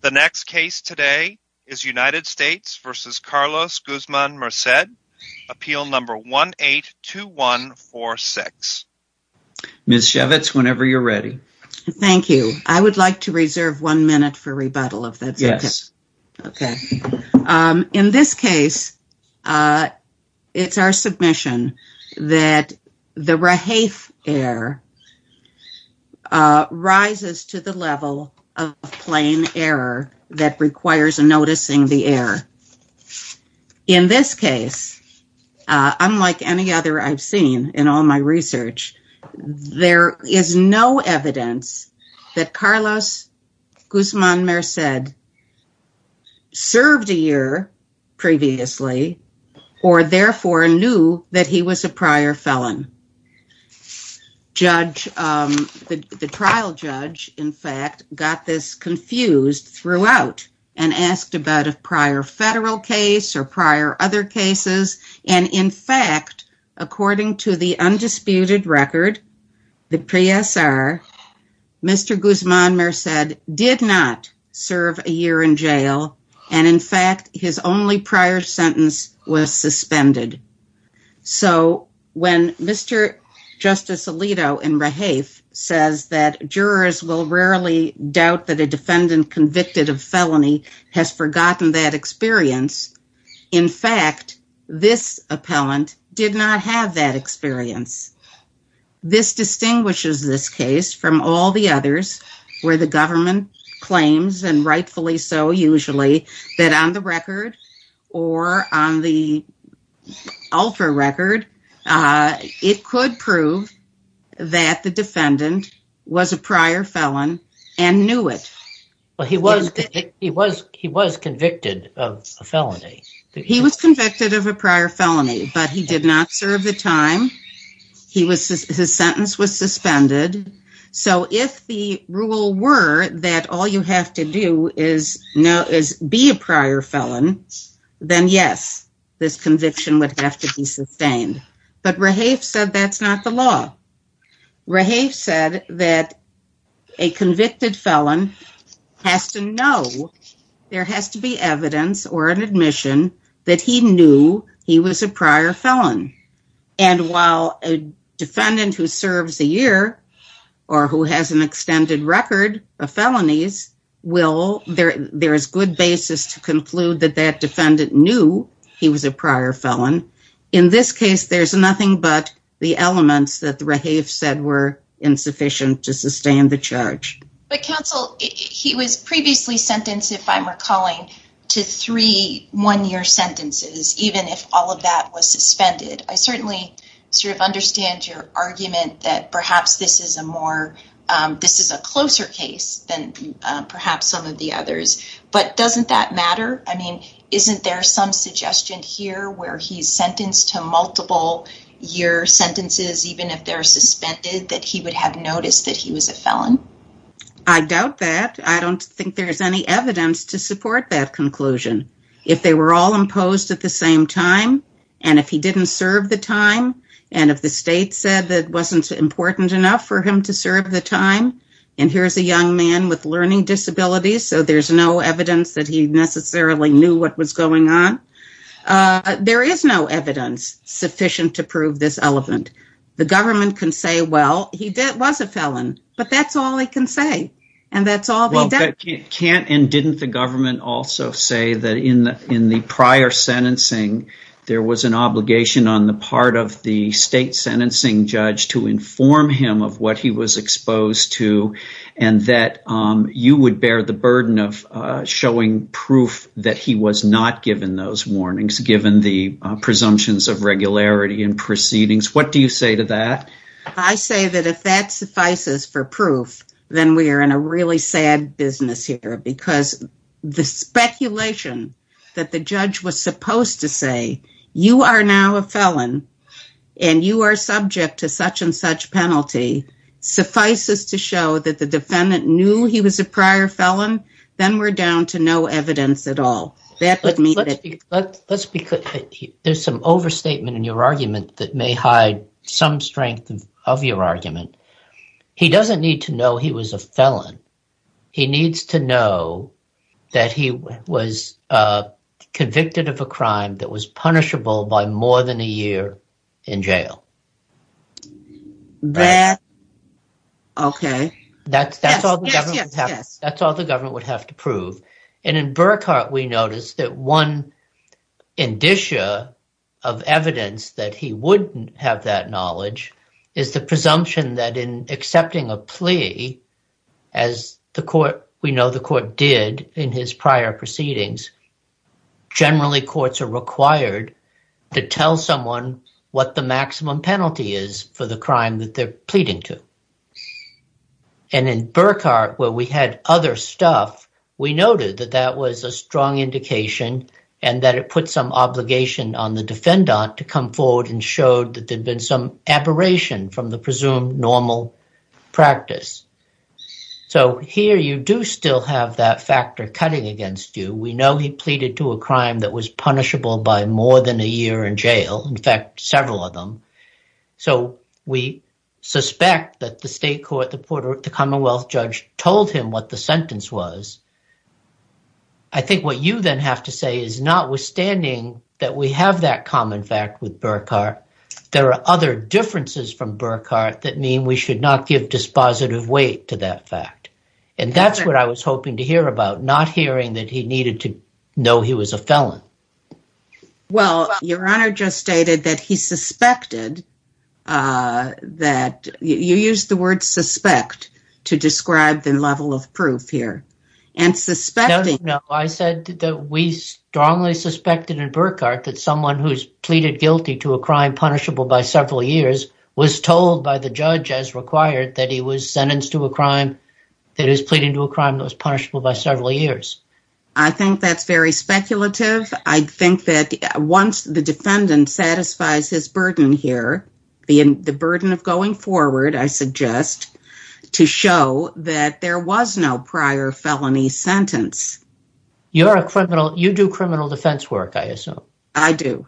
The next case today is United States v. Carlos Guzman-Merced, appeal number 182146. Ms. Shevitz, whenever you're ready. Thank you. I would like to reserve one minute for rebuttal if that's okay. Yes. Okay. In this case, it's our submission that the plain error that requires noticing the error. In this case, unlike any other I've seen in all my research, there is no evidence that Carlos Guzman-Merced served a year previously or therefore knew that he was a prior felon. The trial judge, in fact, got this confused throughout and asked about a prior federal case or prior other cases. And in fact, according to the undisputed record, the PSR, Mr. Guzman-Merced did not serve a year in jail. And in fact, his only prior sentence was suspended. So when Mr. Justice Alito in Rahafe says that jurors will rarely doubt that a defendant convicted of felony has forgotten that experience. In fact, this appellant did not have that experience. This distinguishes this case from all the others where the government claims and rightfully so usually that on the record or on the ultra record, it could prove that the defendant was a prior felon and knew it. Well, he was convicted of a felony. He was convicted of a prior felony, but he did not know that he was a prior felon. So if the rule were that all you have to do is be a prior felon, then yes, this conviction would have to be sustained. But Rahafe said that's not the law. Rahafe said that a convicted felon has to know there has to be evidence or an admission that he knew he was a prior felon. And while a defendant who serves a year or who has an extended record of felonies, there is good basis to conclude that that defendant knew he was a prior felon. In this case, there's nothing but the elements that Rahafe said were insufficient to sustain the charge. But counsel, he was previously sentenced, if I'm recalling, to three one-year sentences, even if all of that was suspended. I certainly sort of understand your argument that perhaps this is a closer case than perhaps some of the others. But doesn't that matter? I mean, isn't there some suggestion here where he's sentenced to multiple year sentences, even if they're suspended, that he would have noticed that he was a felon? I doubt that. I don't think there's any evidence to support that conclusion. If they were all imposed at the same time, and if he didn't serve the time, and if the state said that it wasn't important enough for him to serve the time, and here's a young man with learning disabilities, so there's no evidence that he necessarily knew what was going on. There is no evidence sufficient to prove this element. The government can say, well, he was a felon, but that's all they can say, and that's all they've done. Can't and didn't the government also say that in the prior sentencing, there was an obligation on the part of the state sentencing judge to inform him of what he was exposed to, and that you would bear the burden of showing proof that he was not given those warnings, given the presumptions of regularity and proceedings? What do you say to that? I say that if that suffices for proof, then we are in a really sad business here, because the speculation that the judge was supposed to say, you are now a felon, and you are subject to such and such penalty, suffices to show that the defendant knew he was a prior felon, then we're down to no evidence at all. Let's be clear. There's some overstatement in your argument that may hide some strength of your argument. He doesn't need to know he was a felon. He needs to know that he was convicted of a crime that was punishable by more than a year in jail. Okay. That's all the government would have to prove. In Burkhart, we noticed that one indicia of evidence that he wouldn't have that knowledge is the presumption that in accepting a plea, as we know the court did in his prior proceedings, generally courts are required to tell someone what the maximum penalty is for the crime that they're pleading to. In Burkhart, where we had other stuff, we noted that that was a strong indication and that it put some obligation on the defendant to come forward and showed that there'd been some aberration from the presumed normal practice. Here, you do still have that factor cutting against you. We know he pleaded to a crime that was punishable by more than a year in jail, in fact, several of them. We suspect that the state court, the Commonwealth judge told him what the sentence was. I think what you then have to say is notwithstanding that we have that common fact with Burkhart, there are other differences from Burkhart that mean we should not give dispositive weight to that fact. That's what I was hoping to hear about, not hearing that he needed to know he was a felon. Well, your honor just stated that he suspected, that you used the word suspect to describe the level of proof here. I said that we strongly suspected in Burkhart that someone who's pleaded guilty to a crime punishable by several years was told by the judge as required that he was sentenced to a crime that was punishable. I think that's very speculative. I think that once the defendant satisfies his burden here, the burden of going forward, I suggest, to show that there was no prior felony sentence. You're a criminal, you do criminal defense work, I assume. I do.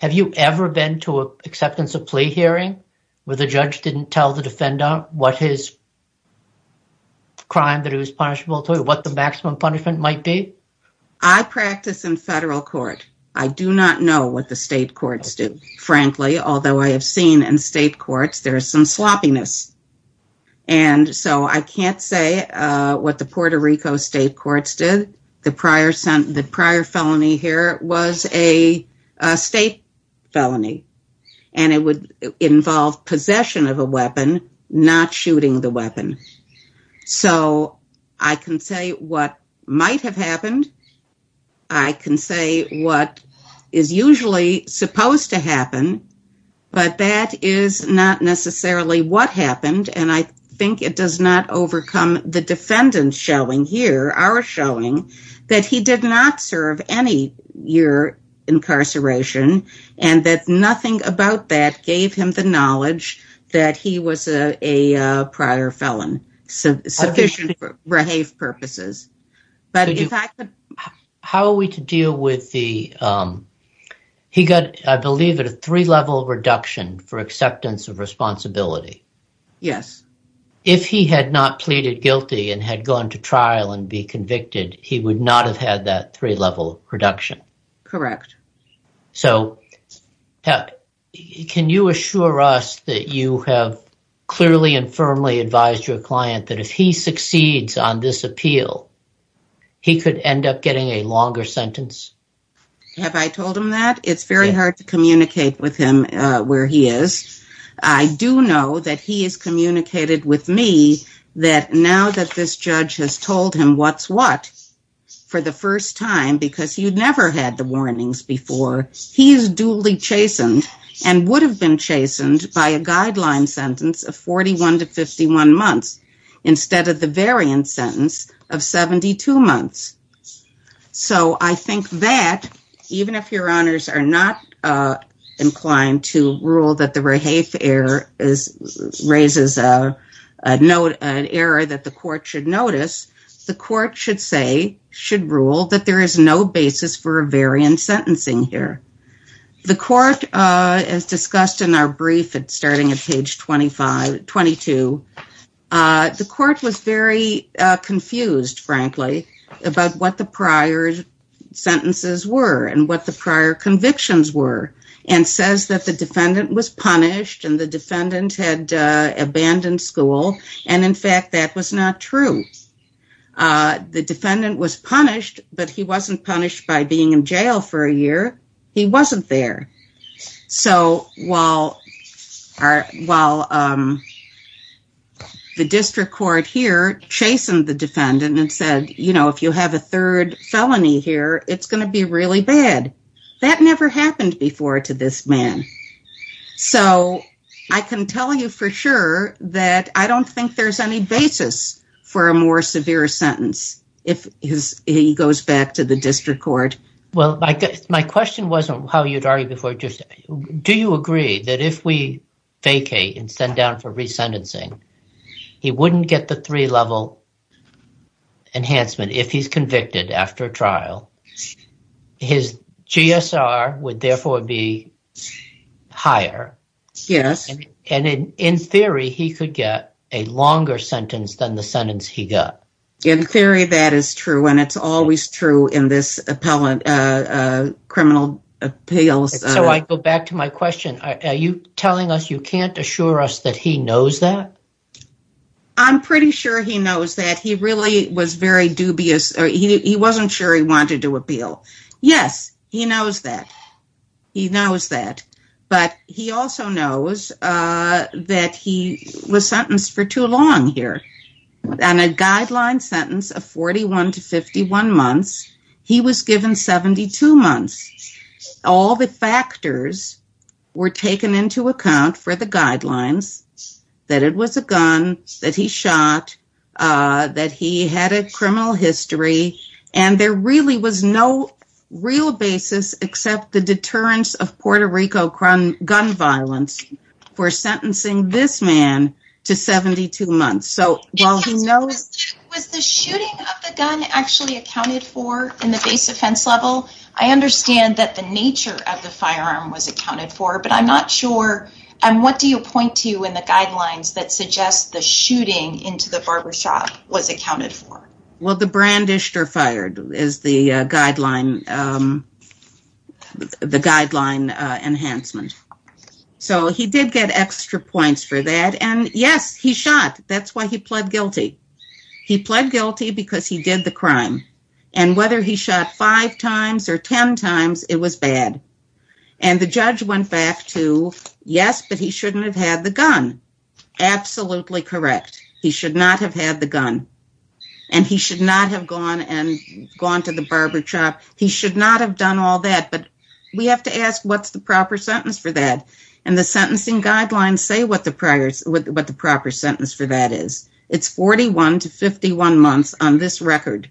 Have you ever been to an acceptance of plea hearing where the judge didn't tell the defendant what his I practice in federal court. I do not know what the state courts do. Frankly, although I have seen in state courts, there is some sloppiness. And so I can't say what the Puerto Rico state courts did. The prior felony here was a state felony, and it would involve possession of a weapon, not shooting the weapon. So I can say what might have happened. I can say what is usually supposed to happen. But that is not necessarily what happened. And I think it does not overcome the defendant showing here, our showing that he did not serve any year incarceration, and that nothing about that gave him the knowledge that he was a prior felon, sufficient for rehave purposes. How are we to deal with the, he got, I believe, a three-level reduction for acceptance of responsibility. Yes. If he had not pleaded guilty and had gone to trial and be convicted, he would not have had that three-level reduction. Correct. So can you assure us that you have clearly and firmly advised your client that if he succeeds on this appeal, he could end up getting a longer sentence? Have I told him that? It's very hard to communicate with him where he is. I do know that he has communicated with me that now that this judge has told him what's what for the first time, because you'd never had the warnings before, he's duly chastened and would have been chastened by a guideline sentence of 41 to 51 months instead of the variant sentence of 72 months. So I think that even if your honors are not inclined to rule that the rehave error raises an error that the court should notice, the court should say, should rule that there is no basis for a variant sentencing here. The court, as discussed in our brief starting at page 22, the court was very confused, frankly, about what the prior sentences were and what the prior had abandoned school. And in fact, that was not true. The defendant was punished, but he wasn't punished by being in jail for a year. He wasn't there. So while the district court here chastened the defendant and said, you know, if you have a third felony here, it's going to be really bad. That never happened before to this man. So I can tell you for sure that I don't think there's any basis for a more severe sentence if he goes back to the district court. Well, my question wasn't how you'd argue before. Do you agree that if we vacate and send down for resentencing, he wouldn't get the three level enhancement if he's convicted after trial? His GSR would therefore be higher. Yes. And in theory, he could get a longer sentence than the sentence he got. In theory, that is true. And it's always true in this appellate criminal appeals. So I go back to my question. Are you telling us you can't assure us that he knows that? I'm pretty sure he knows that. He really was very dubious. He wasn't sure he wanted to appeal. Yes, he knows that. He knows that. But he also knows that he was sentenced for too long here. On a guideline sentence of 41 to 51 months, he was given 72 months. All the factors were taken into account for the guidelines that it was a gun, that he shot, that he had a criminal history. And there really was no real basis except the deterrence of Puerto Rico gun violence for sentencing this man to 72 months. So while he knows... Was the shooting of the gun actually accounted for in the base offense level? I understand that the nature of the firearm was accounted for, but I'm not sure. And what do you point to in the guidelines that suggest the shooting into the barbershop was accounted for? Well, the brandished or fired is the guideline enhancement. So he did get extra points for that. And yes, he shot. That's why he pled guilty. He pled guilty because he did the crime. And whether he shot five times or 10 times, it was bad. And the judge went back to, yes, but he shouldn't have had the gun. Absolutely correct. He should not have had the gun. And he should not have gone to the barber shop. He should not have done all that. But we have to ask, what's the proper sentence for that? And the sentencing guidelines say what the proper sentence for that is. It's 41 to 51 months on this record.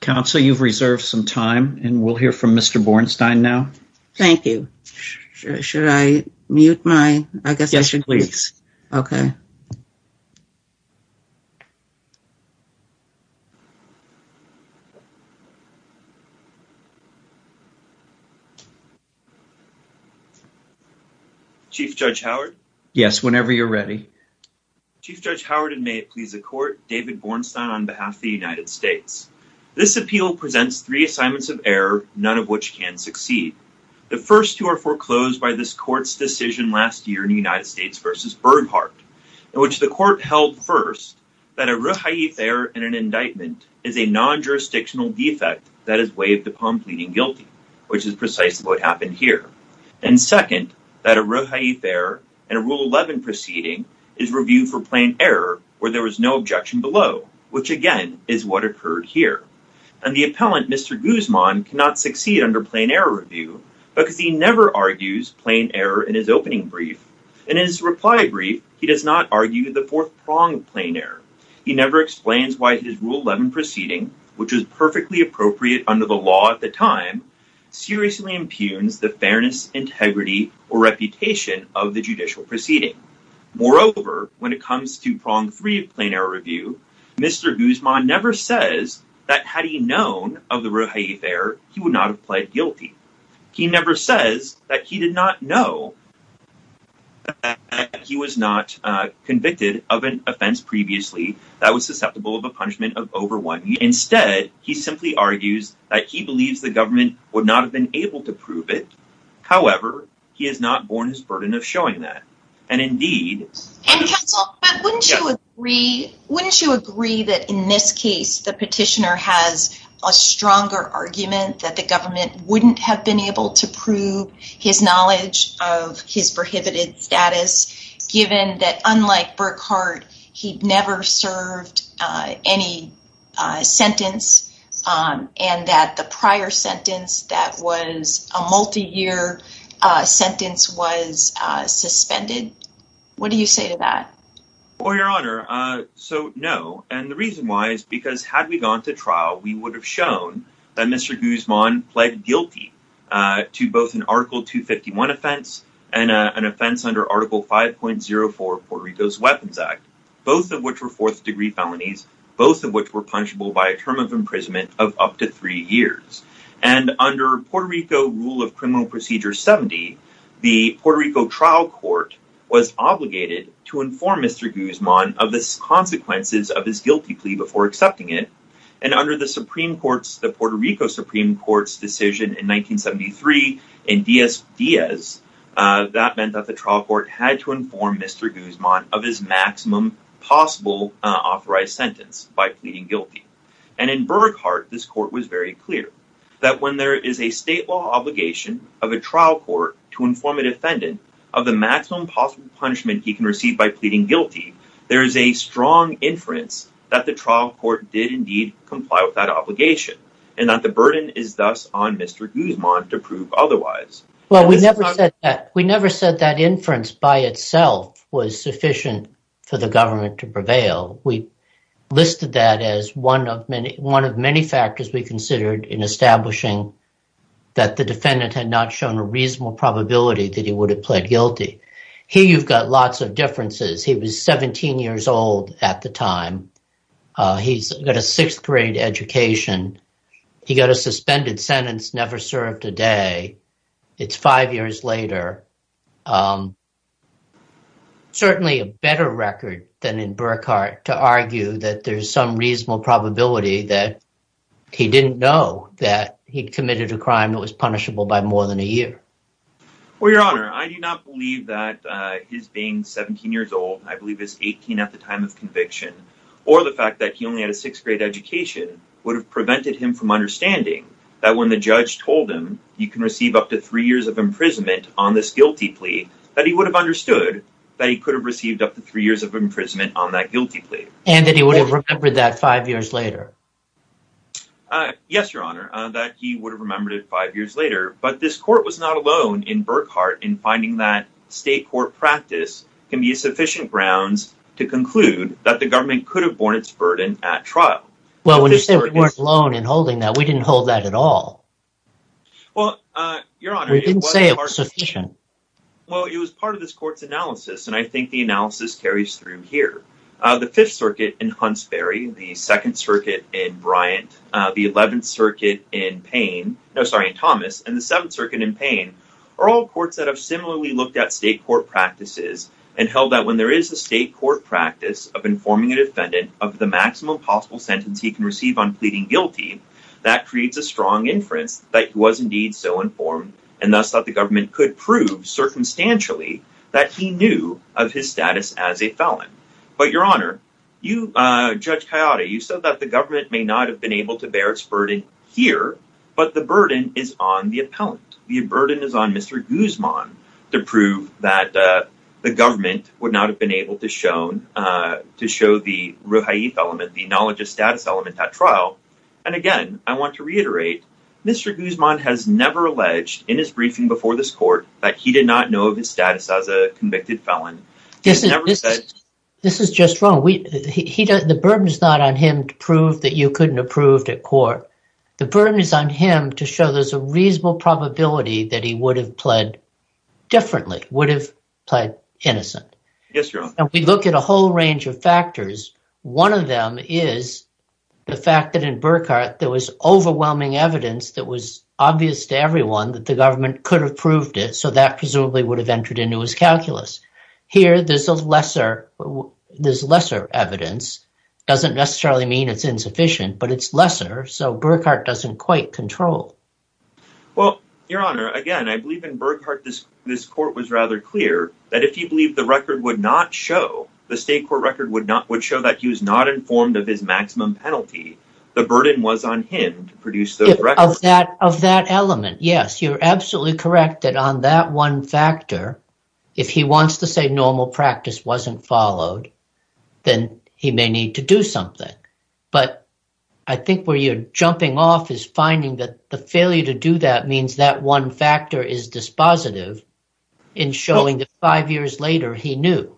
Counsel, you've reserved some time, and we'll hear from Mr. Bornstein now. Thank you. Should I mute my... I guess I should... Yes, please. Okay. Chief Judge Howard? Yes, whenever you're ready. Chief Judge Howard, and may it please the court, David Bornstein on behalf of the United States. This appeal presents three assignments of error, none of which can succeed. The first two are in which the court held first that a ruhaith error in an indictment is a non-jurisdictional defect that is waived upon pleading guilty, which is precisely what happened here. And second, that a ruhaith error in a Rule 11 proceeding is reviewed for plain error where there was no objection below, which again is what occurred here. And the appellant, Mr. Guzman, cannot succeed under plain error review because he never argues plain error in his opening brief. In his reply brief, he does not argue the fourth prong of plain error. He never explains why his Rule 11 proceeding, which was perfectly appropriate under the law at the time, seriously impugns the fairness, integrity, or reputation of the judicial proceeding. Moreover, when it comes to prong three of plain error review, Mr. Guzman never says that had he known of the ruhaith error, he would not have pled guilty. He never says that he did not know that he was not convicted of an offense previously that was susceptible of a punishment of over one year. Instead, he simply argues that he believes the government would not have been able to prove it. However, he has not borne his burden of showing that. And indeed... And counsel, wouldn't you agree that in this case, the petitioner has a stronger argument that the given that unlike Burkhardt, he never served any sentence and that the prior sentence that was a multi-year sentence was suspended? What do you say to that? Well, Your Honor, so no. And the reason why is because had we gone to trial, we would have shown that Mr. Guzman pled guilty to both an article 251 offense and an offense under article 5.04 Puerto Rico's weapons act, both of which were fourth degree felonies, both of which were punishable by a term of imprisonment of up to three years. And under Puerto Rico rule of criminal procedure 70, the Puerto Rico trial court was obligated to inform Mr. Guzman of the consequences of his guilty plea before accepting it. And under the Supreme Court's, the Puerto Rico Supreme Court's decision in 1973 in Diaz, that meant that the trial court had to inform Mr. Guzman of his maximum possible authorized sentence by pleading guilty. And in Burkhardt, this court was very clear that when there is a state law obligation of a trial court to inform a defendant of the inference that the trial court did indeed comply with that obligation and that the burden is thus on Mr. Guzman to prove otherwise. Well, we never said that. We never said that inference by itself was sufficient for the government to prevail. We listed that as one of many, one of many factors we considered in establishing that the defendant had not shown a reasonable probability that he would have pled guilty. Here you've got lots of differences. He was 17 years old at the time. He's got a sixth grade education. He got a suspended sentence, never served a day. It's five years later. Certainly a better record than in Burkhardt to argue that there's some reasonable probability that he didn't know that he'd committed a crime that was punishable by more than a year. Well, your honor, I do not believe that his being 17 years old, I believe is 18 at the time of conviction or the fact that he only had a sixth grade education would have prevented him from understanding that when the judge told him you can receive up to three years of imprisonment on this guilty plea that he would have understood that he could have received up to three years of imprisonment on that guilty plea. And that he would have remembered that five years later. Yes, your honor, that he would have remembered it five years later, but this court was not alone in Burkhardt in finding that state court practice can be sufficient grounds to conclude that the government could have borne its burden at trial. Well, when you say we weren't alone in holding that, we didn't hold that at all. Well, your honor, we didn't say it was sufficient. Well, it was part of this court's analysis, and I think the analysis carries through here. The Fifth Circuit in second circuit in Bryant, the 11th circuit in pain, no, sorry, in Thomas and the seventh circuit in pain are all courts that have similarly looked at state court practices and held that when there is a state court practice of informing a defendant of the maximum possible sentence he can receive on pleading guilty, that creates a strong inference that he was indeed so informed and thus that the government could prove circumstantially that he knew of his status as a felon. But your honor, you, Judge Coyote, you said that the government may not have been able to bear its burden here, but the burden is on the appellant. The burden is on Mr. Guzman to prove that the government would not have been able to show the Ruhaith element, the knowledge of status element at trial. And again, I want to reiterate, Mr. Guzman has never alleged in his briefing before this court that he did not know of his status as a convicted felon. This is just wrong. The burden is not on him to prove that you couldn't have proved at court. The burden is on him to show there's a reasonable probability that he would have pled differently, would have pled innocent. And we look at a whole range of factors. One of them is the fact that in Burkhart there was overwhelming evidence that was obvious to everyone that the government could have proved it. So that presumably would have entered into his calculus. Here there's a lesser, there's lesser evidence. Doesn't necessarily mean it's insufficient, but it's lesser. So Burkhart doesn't quite control. Well, your honor, again, I believe in Burkhart this, this court was rather clear that if you believe the record would not show, the state court record would not, would show that he was not informed of his maximum penalty. The burden was on him to produce those elements. Yes, you're absolutely correct that on that one factor, if he wants to say normal practice wasn't followed, then he may need to do something. But I think where you're jumping off is finding that the failure to do that means that one factor is dispositive in showing that five years later he knew.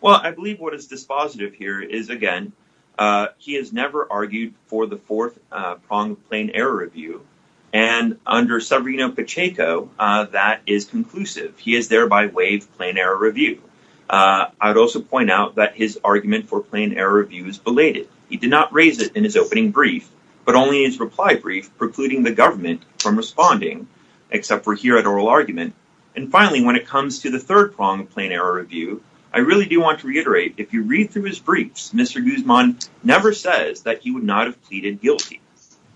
Well, I believe what is dispositive here is again, he has never argued for the fourth prong of plain error review. And under Severino Pacheco, that is conclusive. He has thereby waived plain error review. I would also point out that his argument for plain error review is belated. He did not raise it in his opening brief, but only in his reply brief, precluding the government from responding, except for here at oral argument. And finally, when it comes to the third prong of plain error review, I really do want to reiterate, if you read through his briefs, Mr. Guzman never says that he would not have pleaded guilty.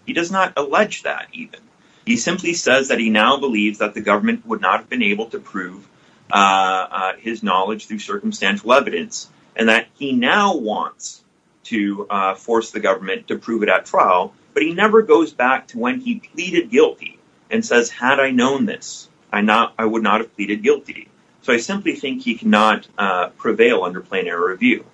He does not allege that even. He simply says that he now believes that the government would not have been able to prove his knowledge through circumstantial evidence, and that he now wants to force the government to prove it at trial. But he never goes back to when he pleaded guilty and says, had I known this, I would not have pleaded guilty. So I simply think he cannot prevail under plain error review.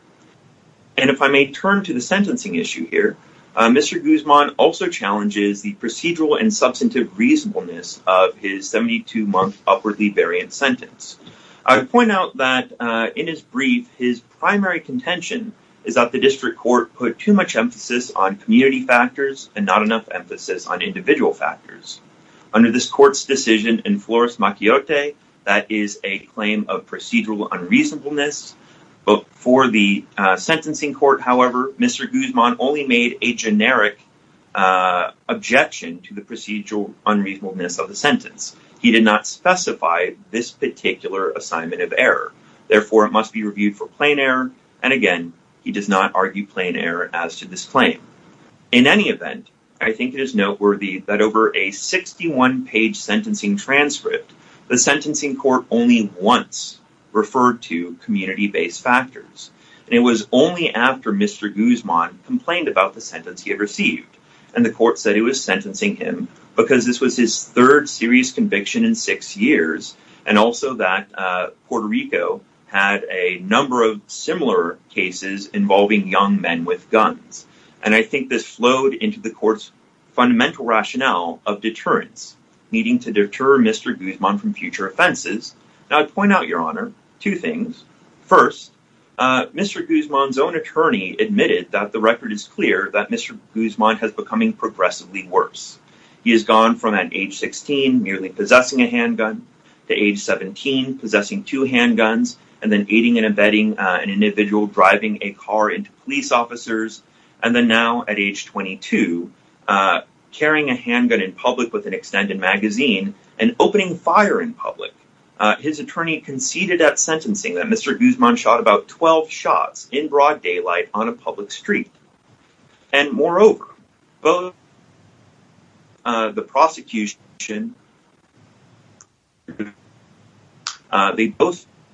And if I may turn to the sentencing issue here, Mr. Guzman also challenges the procedural and substantive reasonableness of his 72-month upwardly variant sentence. I would point out that in his brief, his primary contention is that the district court put too much emphasis on community factors and not enough emphasis on individual factors. Under this court's decision in Flores-Machiote, that is a claim of procedural unreasonableness. For the sentencing court, however, Mr. Guzman only made a generic objection to the procedural unreasonableness of the sentence. He did not specify this particular assignment of error. Therefore, it must be reviewed for plain error. And again, he does not argue plain error as to this claim. In any event, I think it is noteworthy that over a 61-page sentencing transcript, the sentencing court only once referred to community-based factors. And it was only after Mr. Guzman complained about the sentence he had received. And the court said it was sentencing him because this was his third serious conviction in six years, and also that Puerto Rico had a number of similar cases involving young men with guns. And I think this flowed into the court's fundamental rationale of deterrence, needing to deter Mr. Guzman from future offenses. Now, I'd point out, Your Honor, two things. First, Mr. Guzman's own attorney admitted that the record is clear that Mr. Guzman has becoming progressively worse. He has gone from at age 16, merely possessing a handgun, to age 17, possessing two handguns, and then aiding and abetting an individual driving a car into police officers. And then now at age 22, carrying a handgun in public with an extended magazine, and opening fire in public. His attorney conceded at sentencing that Mr. Guzman shot about 12 shots in broad daylight on a public street. And moreover, both the prosecution and the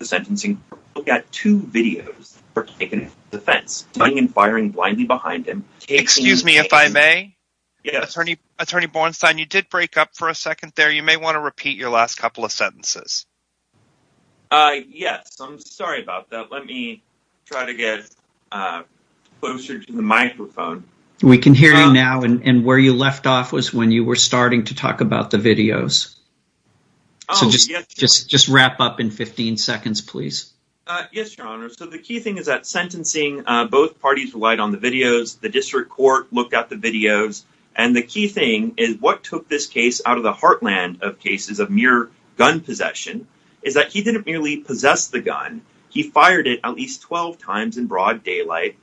sentencing looked at two videos that were taken in defense, running and firing blindly behind him. Excuse me, if I may? Yes. Attorney Bornstein, you did break up for a second there. You may want to repeat your last couple of sentences. Yes, I'm sorry about that. Let me try to get closer to the microphone. We can hear you now, and where you left off was when you were starting to talk about the videos. So just wrap up in 15 seconds, please. Yes, Your Honor. So the key thing is that sentencing, both parties relied on the videos. The district court looked at the videos. And the key thing is what took this case out of the heartland of cases of mere gun possession is that he didn't merely possess the gun. He fired it at least 12 times in broad daylight,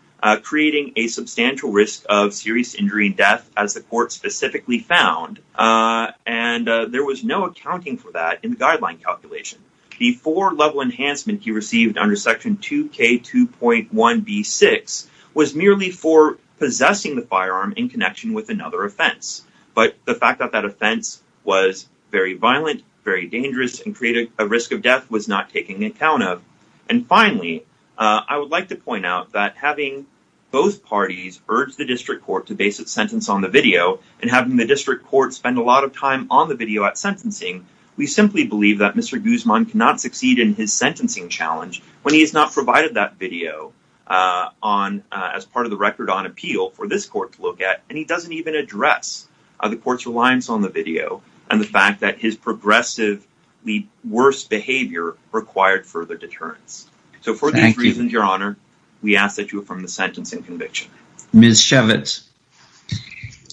creating a substantial risk of serious injury and death, as the court specifically found. And there was no accounting for that in the guideline calculation. The four-level enhancement he received under Section 2K2.1b6 was merely for possessing the firearm in connection with another offense. But the fact that that offense was very violent, very dangerous, and created a risk of death was not taken into account And finally, I would like to point out that having both parties urge the district court to base its sentence on the video and having the district court spend a lot of time on the video at sentencing, we simply believe that Mr. Guzman cannot succeed in his sentencing challenge when he has not provided that video as part of the record on appeal for this court to look at. And he doesn't even address the court's reliance on the video and the fact that his progressively worse behavior required further deterrence. So for these reasons, Your Honor, we ask that you affirm the sentencing conviction. Ms. Shevitz.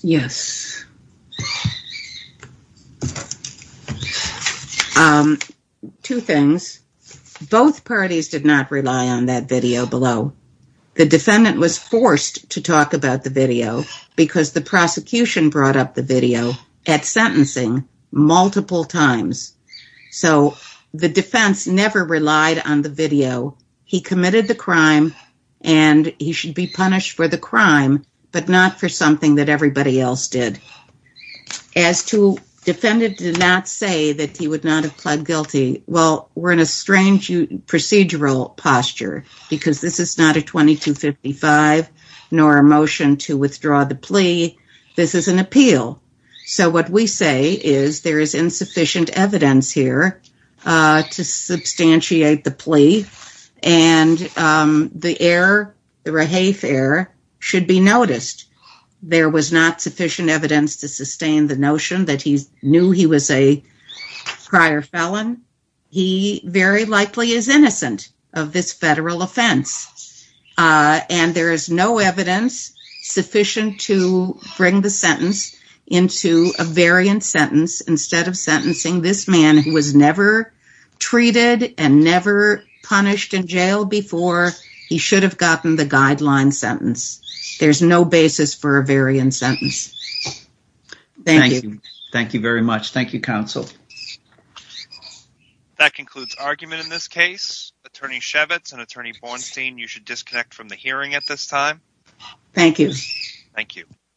Yes. Two things. Both parties did not rely on that video below. The defendant was forced to talk about the video because the prosecution brought up the video at sentencing multiple times. So the defense never relied on the video. He committed the crime and he should be punished for the crime, but not for something that everybody else did. As to defendant did not say that he would not have pled guilty. Well, we're in a strange procedural posture because this is not a 2255 nor a motion to withdraw the plea. This is an appeal. So what we say is there is insufficient evidence here to substantiate the plea. And the error, the rehafe error should be noticed. There was not sufficient evidence to sustain the notion that he knew he was a prior felon. He very likely is innocent of this federal offense. Uh, and there is no evidence sufficient to bring the sentence into a variant sentence instead of sentencing this man who was never treated and never punished in jail before he should have gotten the guideline sentence. There's no basis for a variant sentence. Thank you. Thank you very much. Thank you, counsel. Okay. That concludes argument in this case, attorney Shevitz and attorney Bornstein. You should disconnect from the hearing at this time. Thank you. Thank you.